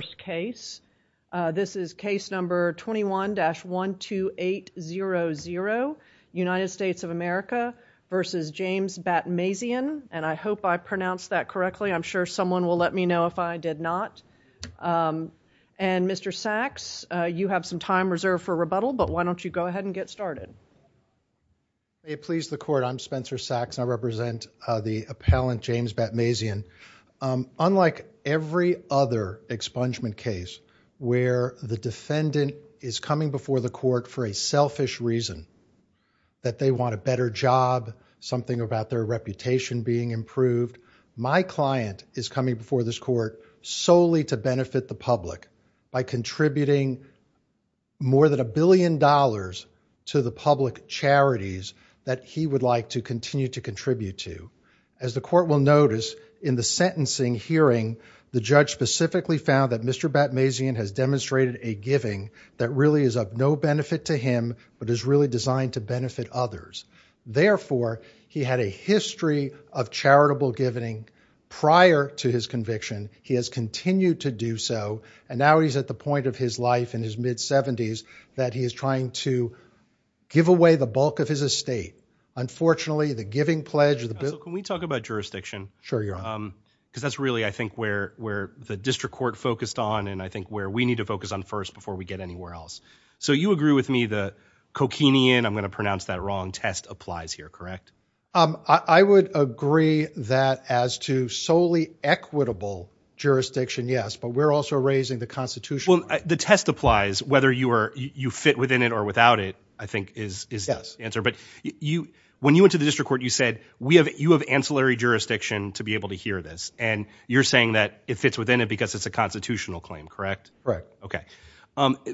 This is case number 21-12800, United States of America v. James Batmasian, and I hope I pronounced that correctly. I'm sure someone will let me know if I did not. And Mr. Sachs, you have some time reserved for rebuttal, but why don't you go ahead and get started? May it please the Court, I'm Spencer Sachs, and I represent the appellant James Batmasian. Unlike every other expungement case where the defendant is coming before the court for a selfish reason, that they want a better job, something about their reputation being improved, my client is coming before this court solely to benefit the public by contributing more than a billion dollars to the public charities that he would like to continue to contribute to. As the court will notice, in the sentencing hearing, the judge specifically found that Mr. Batmasian has demonstrated a giving that really is of no benefit to him, but is really designed to benefit others. Therefore, he had a history of charitable giving prior to his conviction. He has continued to do so, and now he's at the point of his life in his mid-70s that he is trying to give away the bulk of his estate. Unfortunately, the giving pledge... Counsel, can we talk about jurisdiction? Sure, you're on. Because that's really, I think, where the district court focused on, and I think where we need to focus on first before we get anywhere else. So you agree with me, the coquinean, I'm going to pronounce that wrong, test applies here, correct? I would agree that as to solely equitable jurisdiction, yes, but we're also raising the Constitution. Well, the test applies whether you fit within it or without it, I think is the answer. But when you went to the district court, you said, you have ancillary jurisdiction to be able to hear this, and you're saying that it fits within it because it's a constitutional claim, correct? Right. Okay.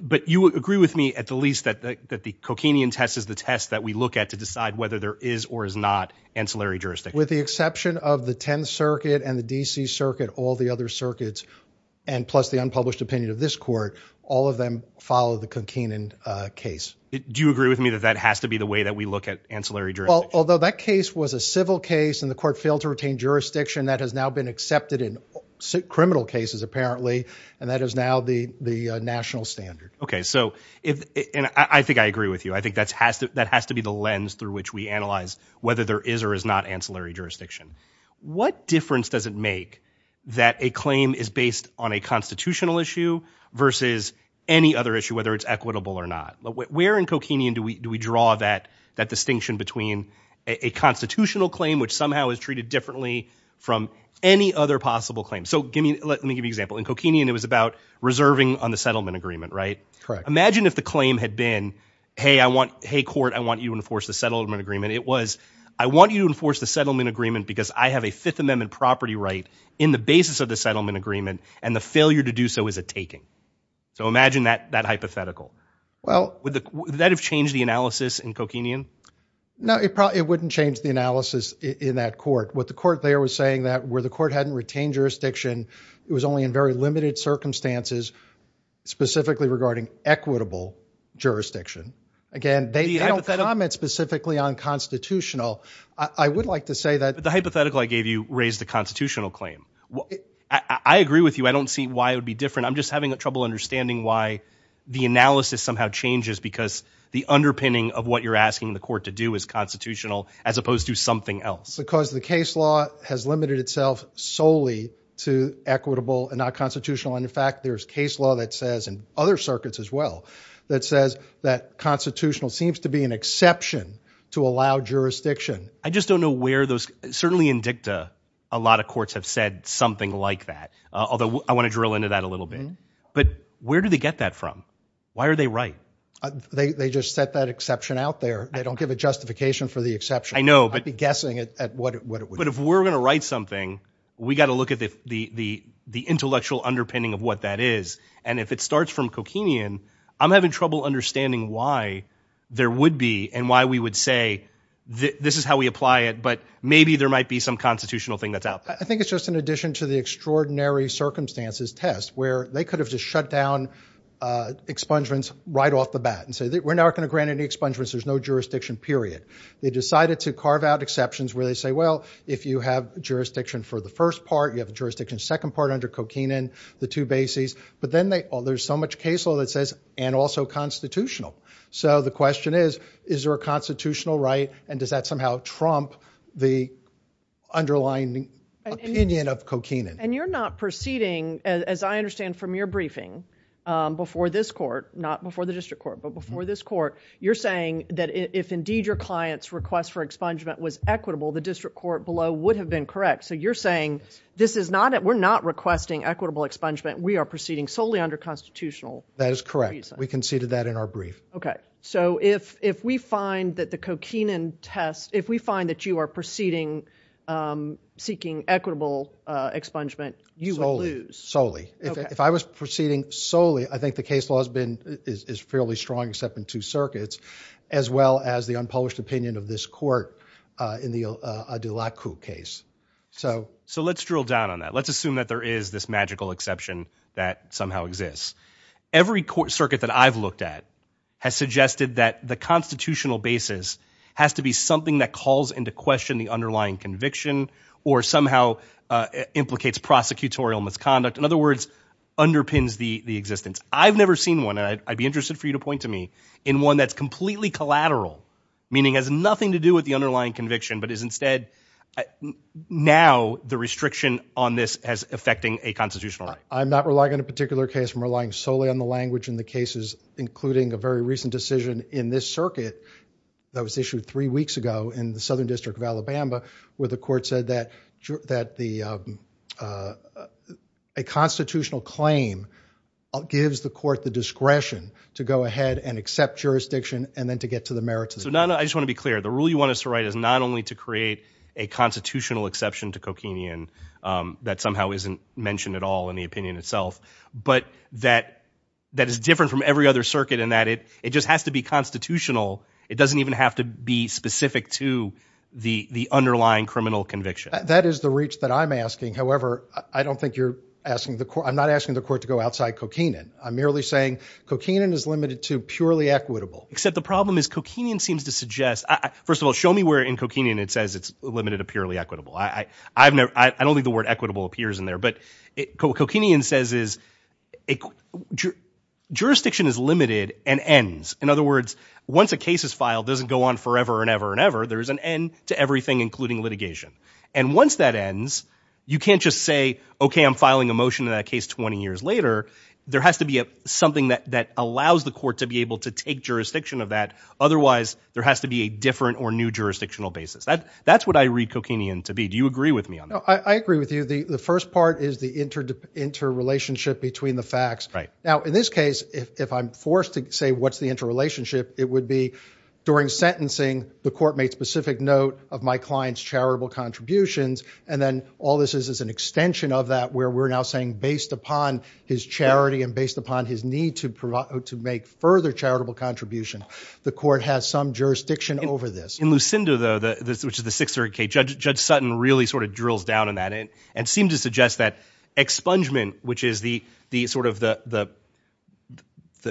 But you agree with me at the least that the coquinean test is the test that we look at to decide whether there is or is not ancillary jurisdiction. With the exception of the 10th Circuit and the D.C. Circuit, all the other circuits, and plus the unpublished opinion of this court, all of them follow the coquinean case. Do you agree with me that that has to be the way that we look at ancillary jurisdiction? Although that case was a civil case, and the court failed to retain jurisdiction, that has now been accepted in criminal cases, apparently, and that is now the national standard. Okay. So, and I think I agree with you. I think that has to be the lens through which we analyze whether there is or is not ancillary jurisdiction. What difference does it make that a constitutional issue versus any other issue, whether it's equitable or not? Where in coquinean do we draw that distinction between a constitutional claim, which somehow is treated differently from any other possible claim? So, let me give you an example. In coquinean, it was about reserving on the settlement agreement, right? Correct. Imagine if the claim had been, hey, court, I want you to enforce the settlement agreement. It was, I want you to enforce the settlement agreement because I have a Fifth Amendment property right in the basis of the settlement agreement, and the failure to do so is a taking. So, imagine that hypothetical. Would that have changed the analysis in coquinean? No, it wouldn't change the analysis in that court. What the court there was saying that where the court hadn't retained jurisdiction, it was only in very limited circumstances, specifically regarding equitable jurisdiction. Again, they don't comment specifically on constitutional. I would like to say that— It's a constitutional claim. I agree with you. I don't see why it would be different. I'm just having trouble understanding why the analysis somehow changes because the underpinning of what you're asking the court to do is constitutional as opposed to something else. Because the case law has limited itself solely to equitable and not constitutional. And in fact, there's case law that says, and other circuits as well, that says that constitutional seems to be an exception to allow jurisdiction. I just don't know where those, certainly in dicta, a lot of courts have said something like that, although I want to drill into that a little bit. But where do they get that from? Why are they right? They just set that exception out there. They don't give a justification for the exception. I know, but— I'd be guessing at what it would be. But if we're going to write something, we got to look at the intellectual underpinning of what that is. And if it starts from coquinean, I'm having trouble understanding why there would be and why we would say, this is how we apply it, but maybe there might be some constitutional thing that's out there. I think it's just in addition to the extraordinary circumstances test, where they could have just shut down expungements right off the bat and say, we're not going to grant any expungements, there's no jurisdiction, period. They decided to carve out exceptions where they say, well, if you have jurisdiction for the first part, you have jurisdiction second part under coquinean, the two bases. But then there's so much case law that says, and also constitutional. So the constitutional right, and does that somehow trump the underlying opinion of coquinean? And you're not proceeding, as I understand from your briefing, before this court, not before the district court, but before this court, you're saying that if indeed your client's request for expungement was equitable, the district court below would have been correct. So you're saying, this is not, we're not requesting equitable expungement, we are proceeding solely under constitutional. That is correct. We conceded that in our brief. Okay. So if we find that the coquinean test, if we find that you are proceeding, seeking equitable expungement, you would lose. Solely. If I was proceeding solely, I think the case law has been, is fairly strong, except in two circuits, as well as the unpublished opinion of this court in the Adelakku case. So let's drill down on that. Let's assume that there is this magical exception that somehow exists. Every court circuit that I've looked at has suggested that the constitutional basis has to be something that calls into question the underlying conviction, or somehow implicates prosecutorial misconduct. In other words, underpins the existence. I've never seen one, and I'd be interested for you to point to me, in one that's completely collateral, meaning has nothing to do with the underlying conviction, but is instead, now the restriction on this has affecting a constitutional right. I'm not relying on a particular case. I'm relying solely on the language in the cases, including a very recent decision in this circuit that was issued three weeks ago in the Southern District of Alabama, where the court said that a constitutional claim gives the court the discretion to go ahead and accept jurisdiction, and then to get to the merits. So now, I just want to be clear. The rule you want us to write is not only to create a constitutional exception to coquinian that somehow isn't mentioned at all in the opinion itself, but that is different from every other circuit in that it just has to be constitutional. It doesn't even have to be specific to the underlying criminal conviction. That is the reach that I'm asking. However, I don't think you're asking the court, I'm not asking the court to go outside coquinian. I'm merely saying coquinian is limited to purely equitable. Except the problem is coquinian seems to suggest, first of all, show me where in coquinian it says it's limited to purely equitable. I don't think the word equitable appears in there, but coquinian says is jurisdiction is limited and ends. In other words, once a case is filed, it doesn't go on forever and ever and ever. There's an end to everything, including litigation. And once that ends, you can't just say, okay, I'm filing a motion in that case 20 years later. There has to be something that allows the court to be able to take jurisdiction of that. Otherwise, there has to be a different or new jurisdictional basis. That's what I read coquinian to be. Do you agree with me on that? I agree with you. The first part is the interrelationship between the facts. Now, in this case, if I'm forced to say what's the interrelationship, it would be during sentencing, the court made specific note of my client's charitable contributions. And then all this is is an extension of that where we're now saying, based upon his charity and based upon his need to make further charitable contribution, the court has some jurisdiction over this. In Lucinda, though, which is the six or K judge, Judge Sutton really sort of drills down on that and seem to suggest that expungement, which is the sort of the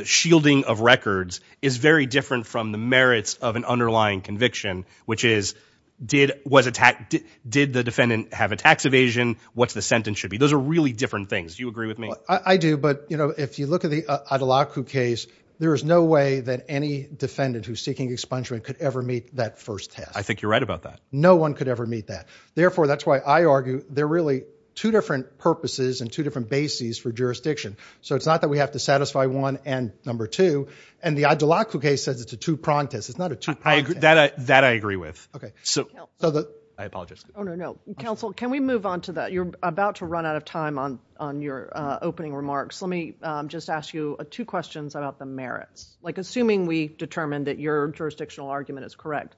shielding of records is very different from the merits of an underlying conviction, which is did was attacked. Did the defendant have a tax evasion? What's the sentence should be? Those are really different things. Do you agree with me? I do. But, you know, if you look at the Adelaide case, there is no way that any defendant who's seeking expungement could ever meet that first test. I think you're right about that. No one could ever meet that. Therefore, that's why I argue they're really two different purposes and two different bases for jurisdiction. So it's not that we have to satisfy one and number two. And the Adelaide case says it's a two prong test. It's not a two that that I agree with. OK, so I apologize. No, counsel, can we move on to that? You're about to run out of time on on your opening remarks. Let me just ask you two questions about the merits, like assuming we determine that your jurisdictional argument is correct.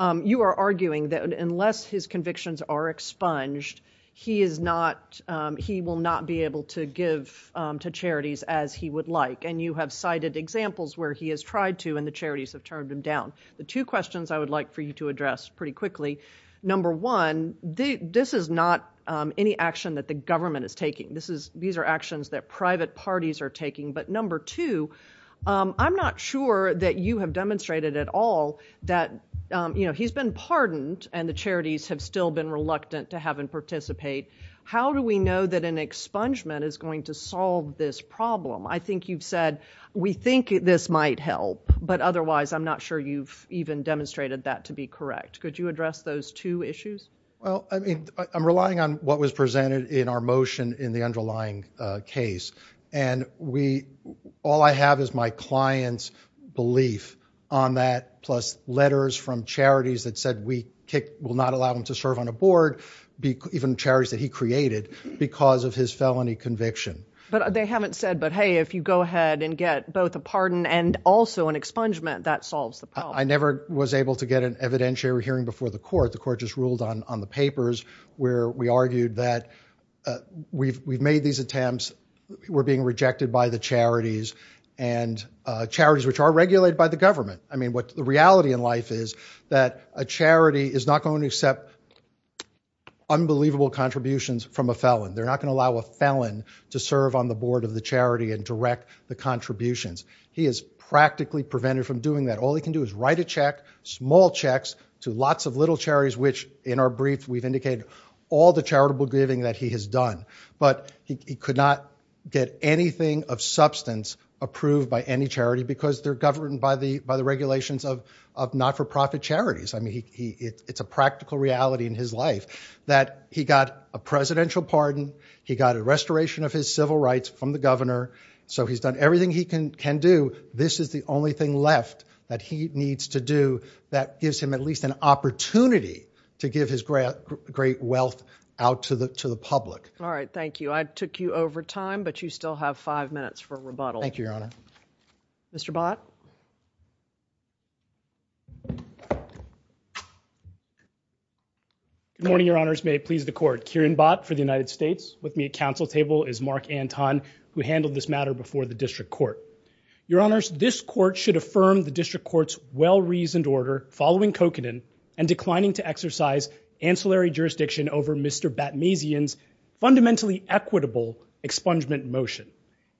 You are arguing that unless his convictions are expunged, he is not he will not be able to give to charities as he would like. And you have cited examples where he has tried to and the charities have turned him down. The two questions I would like for you to address pretty quickly. Number one, this is not any action that the government is parties are taking. But number two, I'm not sure that you have demonstrated at all that he's been pardoned and the charities have still been reluctant to have and participate. How do we know that an expungement is going to solve this problem? I think you've said we think this might help, but otherwise I'm not sure you've even demonstrated that to be correct. Could you address those two issues? Well, I mean, I'm relying on what was presented in our motion in the underlying case. And we all I have is my client's belief on that plus letters from charities that said we will not allow them to serve on a board, even charities that he created because of his felony conviction. But they haven't said, but hey, if you go ahead and get both a pardon and also an expungement, that solves the problem. I never was able to get an evidentiary hearing before the court. The court just ruled on the papers where we argued that we've made these attempts, we're being rejected by the charities and charities which are regulated by the government. I mean, what the reality in life is that a charity is not going to accept unbelievable contributions from a felon. They're not going to allow a felon to serve on the board of the charity and direct the contributions. He is practically prevented from doing that. All he can do is write a check, small checks to lots of little charities, which in our brief we've indicated all the charitable giving that he has done. But he could not get anything of substance approved by any charity because they're governed by the regulations of not-for-profit charities. I mean, it's a practical reality in his life that he got a presidential pardon, he got a restoration of his civil rights from the governor. So he's done everything he can do. This is the only thing left that he needs to do that gives him at least an opportunity to give his great wealth out to the public. All right, thank you. I took you over time, but you still have five minutes for rebuttal. Thank you, Your Honor. Mr. Bott. Good morning, Your Honors. May it please the court. Kieran Bott for the United States. With me at council table is Mark Anton, who handled this matter before the district court. Your Honors, this court should affirm the district court's well-reasoned order following Kokanen and declining to exercise ancillary jurisdiction over Mr. Batmazian's fundamentally equitable expungement motion.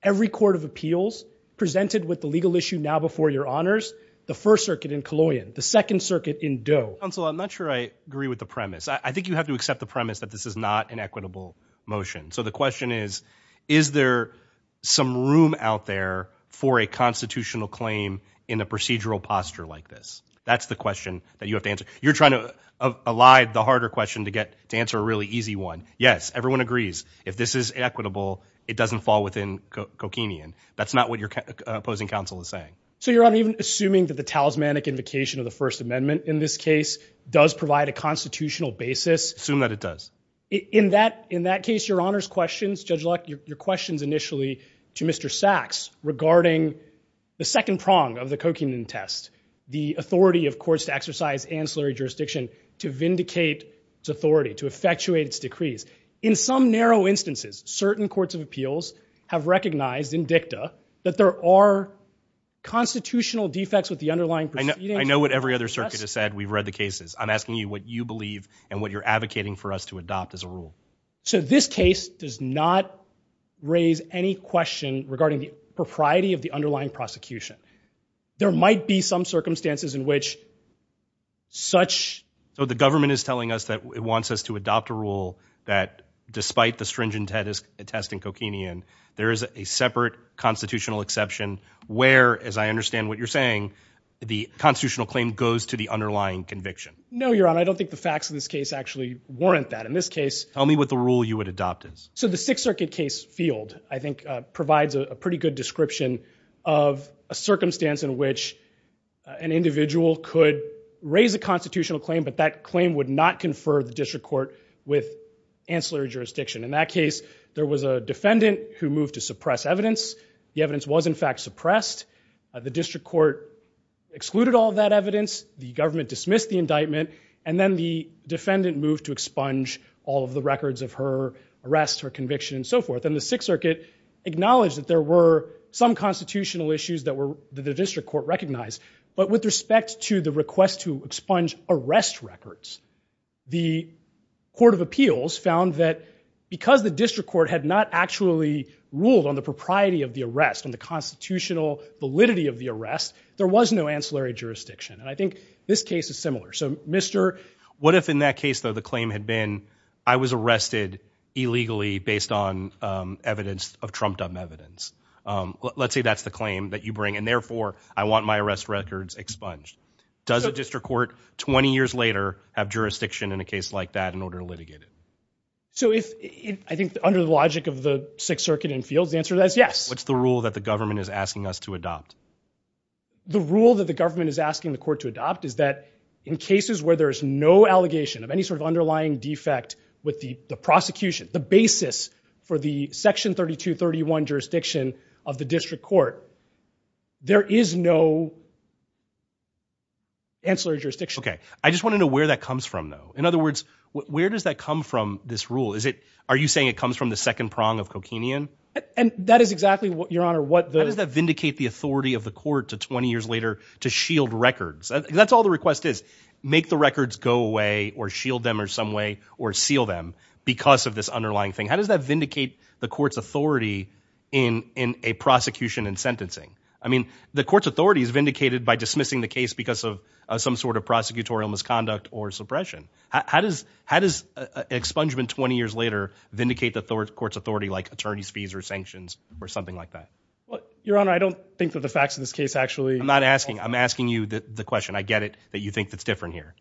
Every court of appeals presented with the legal issue now before Your Honors, the first circuit in Colloian, the second circuit in Doe. Counsel, I'm not sure I agree with the premise. I think you have to accept the premise that this in a procedural posture like this. That's the question that you have to answer. You're trying to elide the harder question to get to answer a really easy one. Yes, everyone agrees. If this is equitable, it doesn't fall within Kokanen. That's not what your opposing counsel is saying. So you're not even assuming that the talismanic invocation of the First Amendment in this case does provide a constitutional basis? Assume that it does. In that case, Your Honors questions, Judge Luck, your questions initially to Mr. Sachs regarding the second prong of the Kokanen test, the authority of courts to exercise ancillary jurisdiction to vindicate its authority, to effectuate its decrees. In some narrow instances, certain courts of appeals have recognized in dicta that there are constitutional defects with the underlying proceedings. I know what every other circuit has said. We've read the cases. I'm asking you what you believe and what you're advocating for us to adopt as a rule. So this case does not raise any question regarding the propriety of the underlying prosecution. There might be some circumstances in which such... So the government is telling us that it wants us to adopt a rule that despite the stringent test in Kokanen, there is a separate constitutional exception where, as I understand what you're saying, the constitutional claim goes to the underlying conviction. No, Your Honor. I don't think the facts of this case actually warrant that. In this case... Tell me what the rule you would adopt is. So the Sixth Circuit case field, I think, provides a pretty good description of a circumstance in which an individual could raise a constitutional claim, but that claim would not confer the district court with ancillary jurisdiction. In that case, there was a defendant who moved to suppress evidence. The evidence was, in fact, suppressed. The district court excluded all of that evidence. The government dismissed the indictment. And then the defendant moved to expunge all of the records of her arrest, her conviction, and so forth. And the Sixth Circuit acknowledged that there were some constitutional issues that the district court recognized. But with respect to the request to expunge arrest records, the Court of Appeals found that because the district court had not actually ruled on the propriety of the arrest, on the constitutional validity of the arrest, there was no ancillary jurisdiction. And I think this case is similar. So, Mr... What if in that case, though, the claim had been, I was arrested illegally based on evidence of trumped-up evidence? Let's say that's the claim that you bring. And therefore, I want my arrest records expunged. Does a district court, 20 years later, have jurisdiction in a case like that in order to litigate it? So if, I think, under the logic of the Sixth Circuit and fields, the answer to that is yes. What's the rule that the government is asking us to adopt? The rule that the government is asking the court to adopt is that in cases where there is no allegation of any sort of underlying defect with the prosecution, the basis for the Section 3231 jurisdiction of the district court, there is no ancillary jurisdiction. Okay. I just want to know where that comes from, though. In other words, where does that come from, this rule? Is it, are you saying it comes from the second prong of Kokinian? And that is exactly what, Your Honor, what the... to shield records. That's all the request is. Make the records go away or shield them in some way or seal them because of this underlying thing. How does that vindicate the court's authority in a prosecution and sentencing? I mean, the court's authority is vindicated by dismissing the case because of some sort of prosecutorial misconduct or suppression. How does expungement, 20 years later, vindicate the court's authority like attorney's fees or sanctions or something like that? Your Honor, I don't think that the facts of this case actually... I'm asking you the question. I get it that you think that's different here.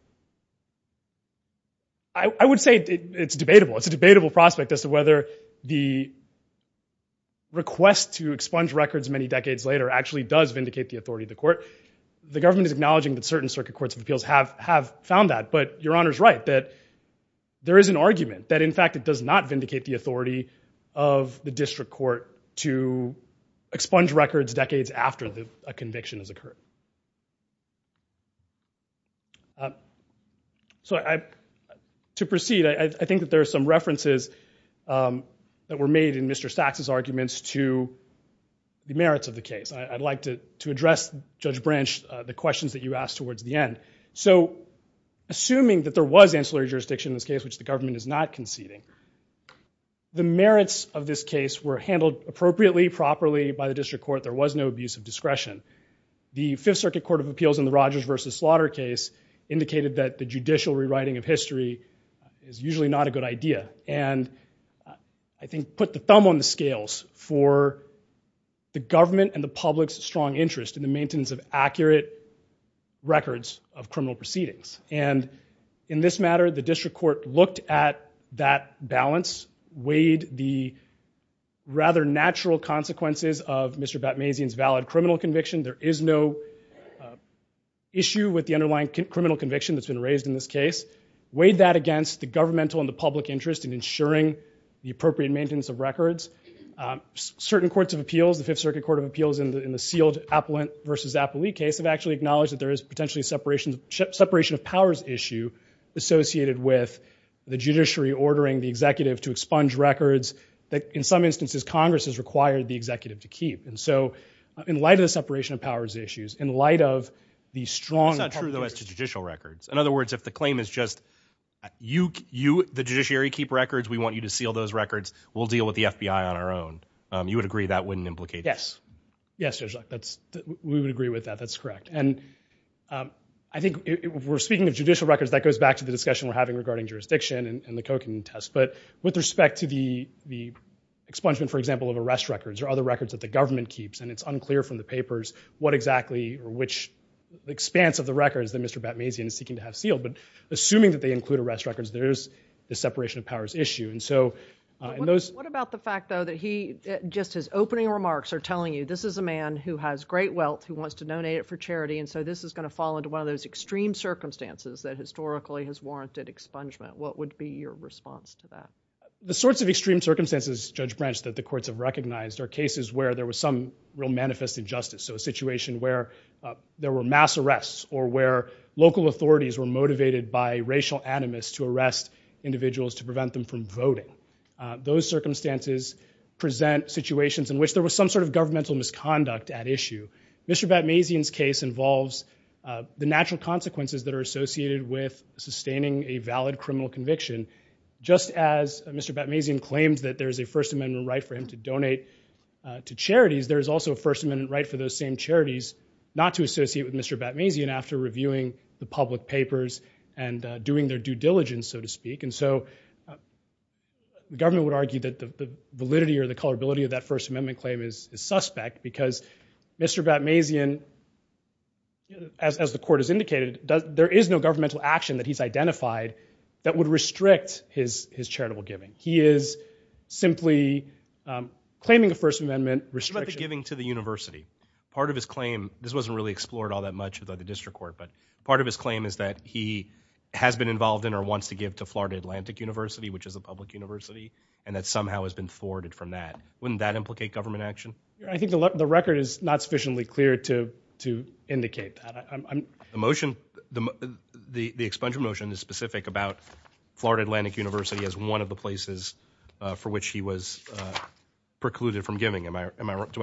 I would say it's debatable. It's a debatable prospect as to whether the request to expunge records many decades later actually does vindicate the authority of the court. The government is acknowledging that certain circuit courts of appeals have found that, but Your Honor's right that there is an argument that, in fact, it does not vindicate the authority of the district court to expunge records decades after a conviction has occurred. So, to proceed, I think that there are some references that were made in Mr. Sachs' arguments to the merits of the case. I'd like to address, Judge Branch, the questions that you asked towards the end. So, assuming that there was ancillary jurisdiction in this case, which the government is not conceding, the merits of this case were handled appropriately, properly by the district court. There was no abuse of discretion. The Fifth Circuit Court of Appeals in the Rogers v. Slaughter case indicated that the judicial rewriting of history is usually not a good idea and, I think, put the thumb on the scales for the government and the public's strong interest in the maintenance of accurate records of criminal proceedings. And, in this matter, the district court looked at that balance, weighed the rather natural consequences of Mr. Batmazian's valid criminal conviction. There is no issue with the underlying criminal conviction that's been raised in this case. Weighed that against the governmental and the public interest in ensuring the appropriate maintenance of records. Certain courts of appeals, the Fifth Circuit Court of Appeals in the sealed Appellant v. Appellee case, have actually acknowledged that there is potentially a separation of powers issue associated with the judiciary ordering the executive to expunge records that, in some instances, Congress has required the executive to keep. And so, in light of the separation of powers issues, in light of the strong... It's not true, though, as to judicial records. In other words, if the claim is just, you, the judiciary, keep records, we want you to seal those records, we'll deal with the FBI on our own. You would agree that wouldn't implicate... Yes. Yes, Judge Luck. We would agree with that. That's correct. And I think we're speaking of judicial records, that goes back to the discussion we're having regarding jurisdiction and the Cochrane test. But with respect to the expungement, for example, of arrest records or other records that the government keeps, and it's unclear from the papers what exactly or which expanse of the records that Mr. Batmazian is seeking to have sealed. But assuming that they include arrest records, there is the separation of powers issue. And so... What about the fact, though, that he... Just his opening remarks are telling you, this is a man who has great wealth, who wants to donate it for charity, and so this is going to fall into one of those extreme circumstances that historically has warranted expungement. What would be your response to that? The sorts of extreme circumstances, Judge Branch, that the courts have recognized are cases where there was some real manifest injustice. So, a situation where there were mass arrests or where local authorities were motivated by present situations in which there was some sort of governmental misconduct at issue. Mr. Batmazian's case involves the natural consequences that are associated with sustaining a valid criminal conviction. Just as Mr. Batmazian claims that there is a First Amendment right for him to donate to charities, there is also a First Amendment right for those same charities not to associate with Mr. Batmazian after reviewing the public papers and doing their diligence, so to speak. And so, the government would argue that the validity or the colorability of that First Amendment claim is suspect because Mr. Batmazian, as the court has indicated, there is no governmental action that he's identified that would restrict his charitable giving. He is simply claiming a First Amendment restriction. What about the giving to the university? Part of his claim, this wasn't really explored all that much by the district court, but part of his claim is that he has been involved in or wants to give to Florida Atlantic University, which is a public university, and that somehow has been thwarted from that. Wouldn't that implicate government action? I think the record is not sufficiently clear to to indicate that. The motion, the expansion motion is specific about Florida Atlantic University as one of the places for which he was precluded from giving. Do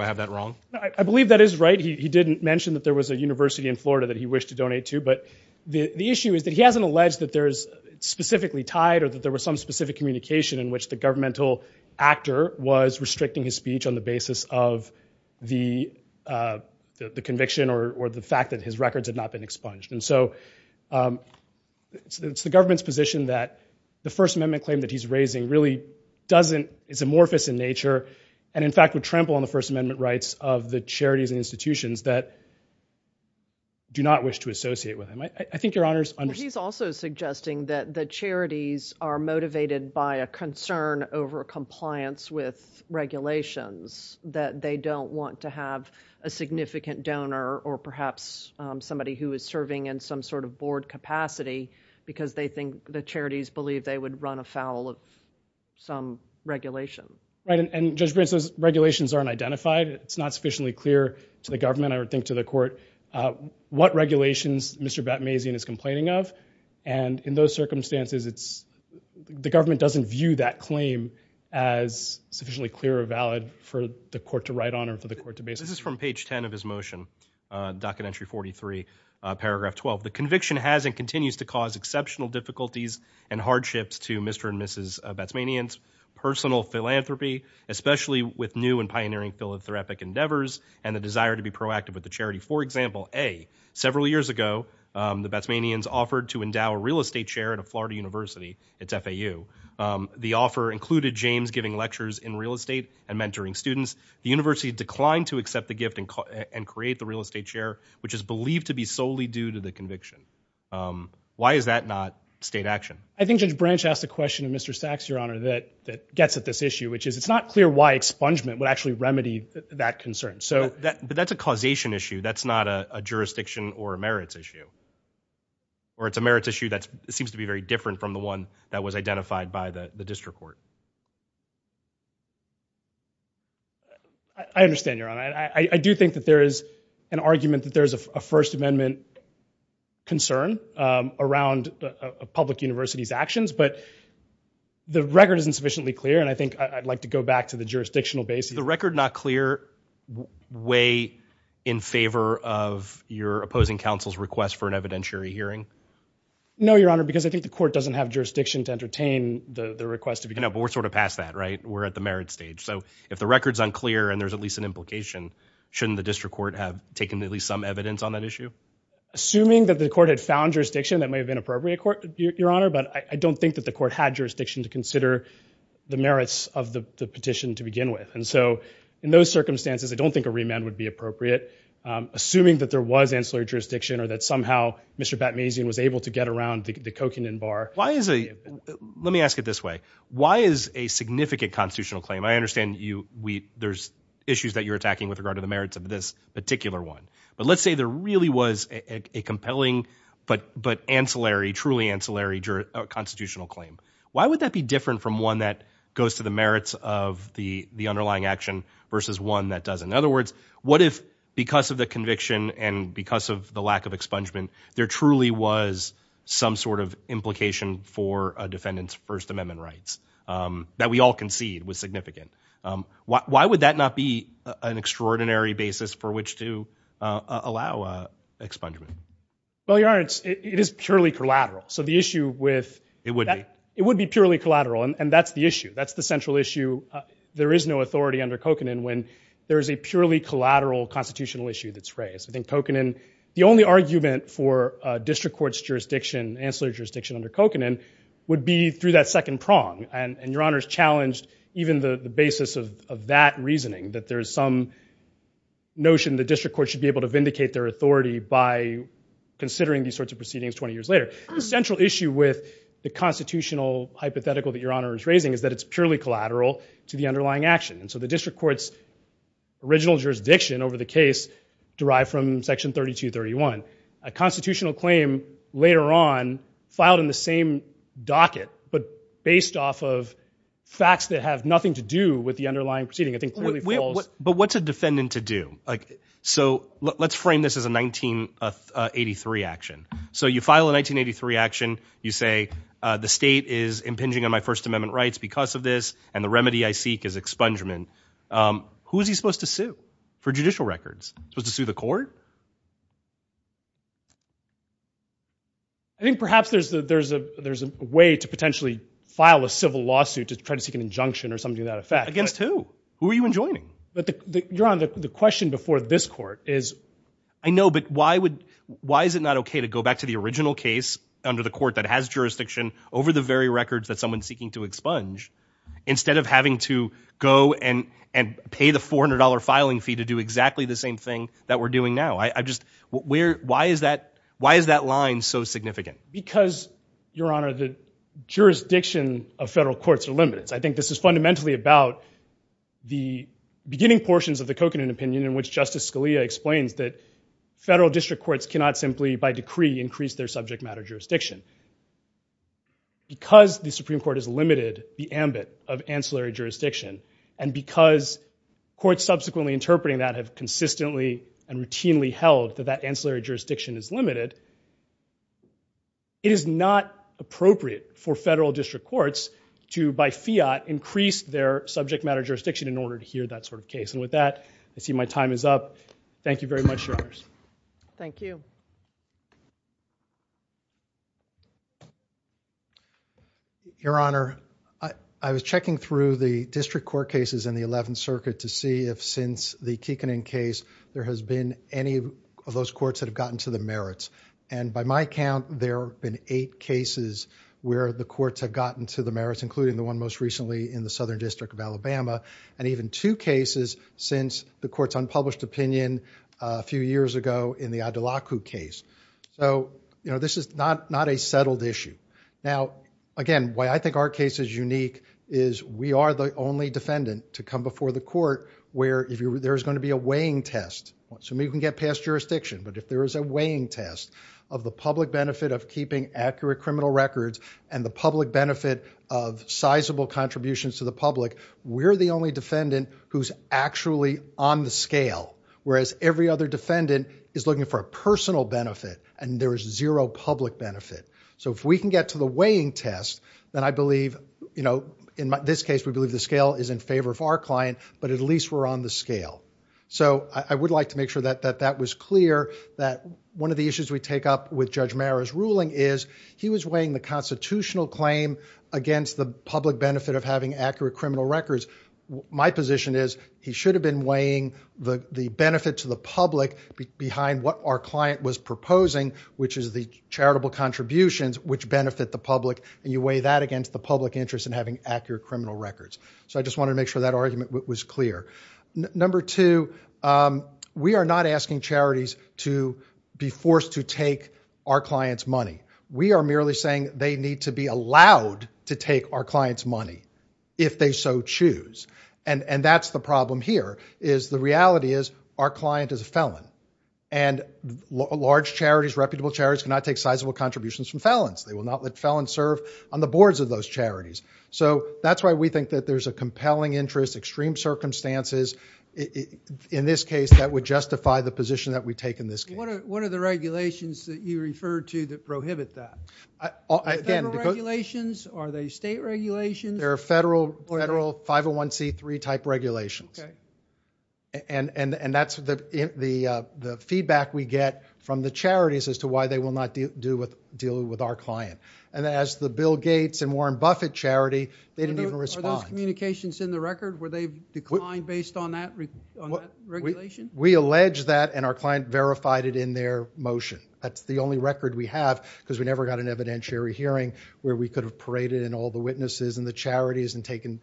I have that wrong? I believe that is right. He didn't mention that there was a university in Florida that he wished to donate to, but the issue is that he hasn't alleged that there's specifically tied or that there was some specific communication in which the governmental actor was restricting his speech on the basis of the conviction or the fact that his records had not been expunged. And so, it's the government's position that the First Amendment claim that he's raising really doesn't, it's amorphous in nature, and in fact would trample on the First Amendment rights of the charities and institutions that do not wish to associate with him. I think Your Honor's understanding. He's also suggesting that the charities are motivated by a concern over compliance with regulations, that they don't want to have a significant donor or perhaps somebody who is serving in some sort of board capacity because they think the charities believe they would run afoul of some regulation. Right, and Judge Brent says regulations aren't identified. It's not sufficiently clear to the government, I would think to the court, what regulations Mr. Batmazian is complaining of, and in those circumstances it's, the government doesn't view that claim as sufficiently clear or valid for the court to write on or for the court to base. This is from page 10 of his motion, docket entry 43, paragraph 12. The conviction has and continues to cause exceptional difficulties and hardships to Mr. and Mrs. Batzmanian's personal philanthropy, especially with new and pioneering philanthropic endeavors and the desire to be proactive with the charity. For example, A, several years ago the Batzmanians offered to endow a real estate chair at a Florida university, it's FAU. The offer included James giving lectures in real estate and mentoring students. The university declined to accept the gift and create the real estate chair, which is believed to be solely due to the conviction. Why is that not state action? I think Judge Branch asked a question of Mr. Sachs, Your Honor, that gets at this issue, which is it's not clear why expungement would actually remedy that concern. So that, but that's a causation issue, that's not a jurisdiction or a merits issue, or it's a merits issue that seems to be very different from the one that was identified by the district court. I understand, Your Honor. I do think that there is an argument that there's a First Amendment concern around a public university's actions, but the record isn't sufficiently clear and I think I'd like to go back to the jurisdictional basis. Is the record not clear way in favor of your opposing counsel's request for an evidentiary hearing? No, Your Honor, because I think the court doesn't have jurisdiction to entertain the request to begin. No, but we're sort of past that, right? We're at the merit stage. So if the record's unclear and there's at least an implication, shouldn't the district court have taken at least some evidence on that issue? Assuming that the court had found jurisdiction, that may have been appropriate, Your Honor, but I don't think that the court had jurisdiction to consider the merits of the petition to begin with. And so, in those circumstances, I don't think a remand would be appropriate. Assuming that there was ancillary jurisdiction or that somehow Mr. Batmazian was able to get around the Kokinden Bar. Why is a, let me ask it this way, why is a significant constitutional claim, I understand you, we, there's issues that you're attacking with regard to the merits of this particular one. But let's say there really was a compelling but ancillary, truly ancillary constitutional claim. Why would that be different from one that goes to the merits of the underlying action versus one that doesn't? In other words, what if, because of the conviction and because of the lack of expungement, there truly was some sort of implication for a defendant's First Amendment rights that we all concede was significant. Why would that not be an extraordinary basis for which to allow expungement? Well, Your Honor, it is purely collateral. So the issue with It would be. It would be purely collateral. And that's the issue. That's the central issue. There is no authority under Kokinden when there is a purely collateral constitutional issue that's raised. I think Kokinden, the only argument for district court's jurisdiction, ancillary jurisdiction under Kokinden, would be through that second prong. And Your Honor's challenged even the basis of that reasoning, that there's some notion the district court should be able to vindicate their authority by considering these sorts of proceedings 20 years later. The central issue with the constitutional hypothetical that Your Honor is raising is that it's purely collateral to the underlying action. And so the district court's original jurisdiction over the case, derived from Section 3231, a constitutional claim later on filed in the same docket, but based off of facts that have nothing to do with the underlying proceeding, I think clearly falls. But what's a defendant to do? So let's frame this as a 1983 action. So you file a 1983 action. You say the state is impinging on my First Amendment rights because of this, and the remedy I seek is expungement. Who is he supposed to sue for judicial records? Supposed to sue the court? I think perhaps there's a way to potentially file a civil lawsuit to try to seek an injunction or something of that effect. Against who? Who are you enjoining? But Your Honor, the question before this court is... I know, but why is it not okay to go back to the original case under the court that has jurisdiction over the very records that someone's seeking to expunge, instead of having to go and pay the $400 filing fee to do exactly the same thing that we're doing now? Why is that line so significant? Because, Your Honor, the jurisdiction of federal courts are limited. I think this is fundamentally about the beginning portions of the Kokanen opinion in which Justice Scalia explains that federal district courts cannot simply, by decree, increase their subject matter jurisdiction. Because the Supreme Court has limited the ambit of ancillary jurisdiction, and because courts subsequently interpreting that have consistently and routinely held that that ancillary jurisdiction is limited, it is not appropriate for federal district courts to, by fiat, increase their subject matter jurisdiction in order to hear that sort of case. And with that, I see my time is up. Thank you very much, Your Honors. Thank you. Your Honor, I was checking through the district court cases in the 11th Circuit to see if since the Kekanen case, there has been any of those courts that have gotten to the merits. And by my count, there have been eight cases where the courts have gotten to the merits, including the one most recently in the Southern District of Alabama, and even two cases since the court's So, you know, this is not a settled issue. Now, again, why I think our case is unique is we are the only defendant to come before the court where there is going to be a weighing test. So we can get past jurisdiction, but if there is a weighing test of the public benefit of keeping accurate criminal records and the public benefit of sizable contributions to the public, we're the only is looking for a personal benefit, and there is zero public benefit. So if we can get to the weighing test, then I believe, you know, in this case, we believe the scale is in favor of our client, but at least we're on the scale. So I would like to make sure that that was clear, that one of the issues we take up with Judge Marra's ruling is he was weighing the constitutional claim against the public benefit of having accurate criminal records. My position is he should have been weighing the benefit to the public behind what our client was proposing, which is the charitable contributions which benefit the public, and you weigh that against the public interest in having accurate criminal records. So I just wanted to make sure that argument was clear. Number two, we are not asking charities to be forced to take our client's money. We are merely saying they need to be allowed to take our client's money if they so choose, and that's the problem here, is the reality is our client is a felon, and large charities, reputable charities, cannot take sizable contributions from felons. They will not let felons serve on the boards of those charities. So that's why we think that there's a compelling interest, extreme circumstances in this case that would justify the position that we take in this case. What are the regulations that you refer to that prohibit that? Federal regulations? Are they state regulations? There are federal 501C3 type regulations, and that's the feedback we get from the charities as to why they will not deal with our client, and as the Bill Gates and Warren Buffett charity, they didn't even respond. Are those communications in the record? Were they declined based on that regulation? We allege that, and our client verified it in their motion. That's the only record we have because we never got an evidentiary hearing where we could have paraded in all the witnesses and the charities and taken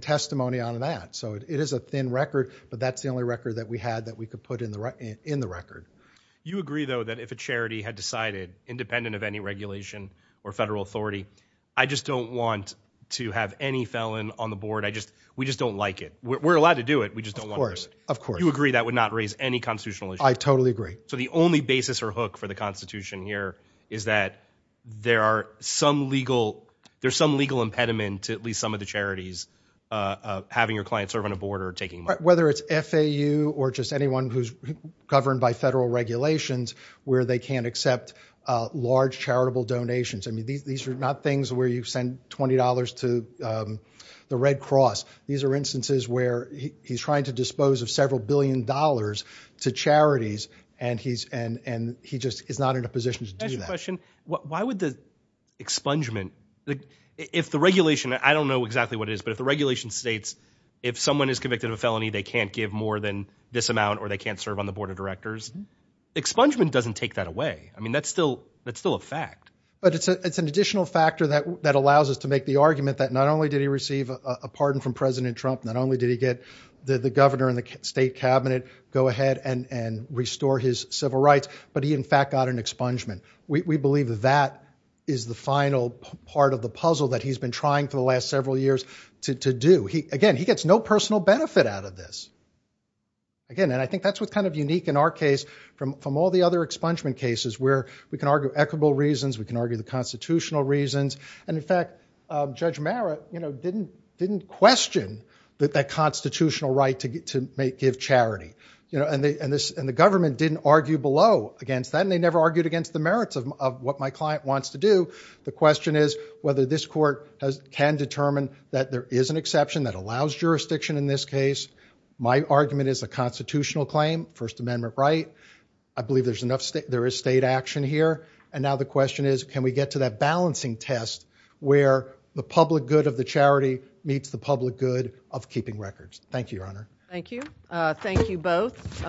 testimony on that. So it is a thin record, but that's the only record that we had that we could put in the record. You agree, though, that if a charity had decided, independent of any regulation or federal authority, I just don't want to have any felon on the board. We just don't like it. We're allowed to do it. We just don't want to do it. Of course. You agree that would not raise any constitutional issue. I totally agree. So the only basis or hook for the Constitution here is that there are some legal impediment to at least some of the charities having your client serve on a board or taking money. Whether it's FAU or just anyone who's governed by federal regulations where they can't accept large charitable donations. I mean, these are not things where you send $20 to the Red where he's trying to dispose of several billion dollars to charities and he's and he just is not in a position to do that question. Why would the expungement if the regulation? I don't know exactly what it is, but if the regulation states if someone is convicted of a felony, they can't give more than this amount or they can't serve on the board of directors. Expungement doesn't take that away. I mean, that's still that's still a fact, but it's an additional factor that that to make the argument that not only did he receive a pardon from President Trump, not only did he get the governor and the state cabinet go ahead and restore his civil rights, but he in fact got an expungement. We believe that is the final part of the puzzle that he's been trying for the last several years to do. Again, he gets no personal benefit out of this. Again, and I think that's what's kind of unique in our case from all the other expungement cases where we can argue equitable reasons, we can argue the constitutional reasons, and in fact, Judge Merritt didn't question that constitutional right to give charity, and the government didn't argue below against that, and they never argued against the merits of what my client wants to do. The question is whether this court can determine that there is an exception that allows jurisdiction in this case. My argument is a constitutional claim, First Amendment right. I believe there's state action here, and now the question is can we get to that balancing test where the public good of the charity meets the public good of keeping records. Thank you, Your Honor. Thank you. Thank you both.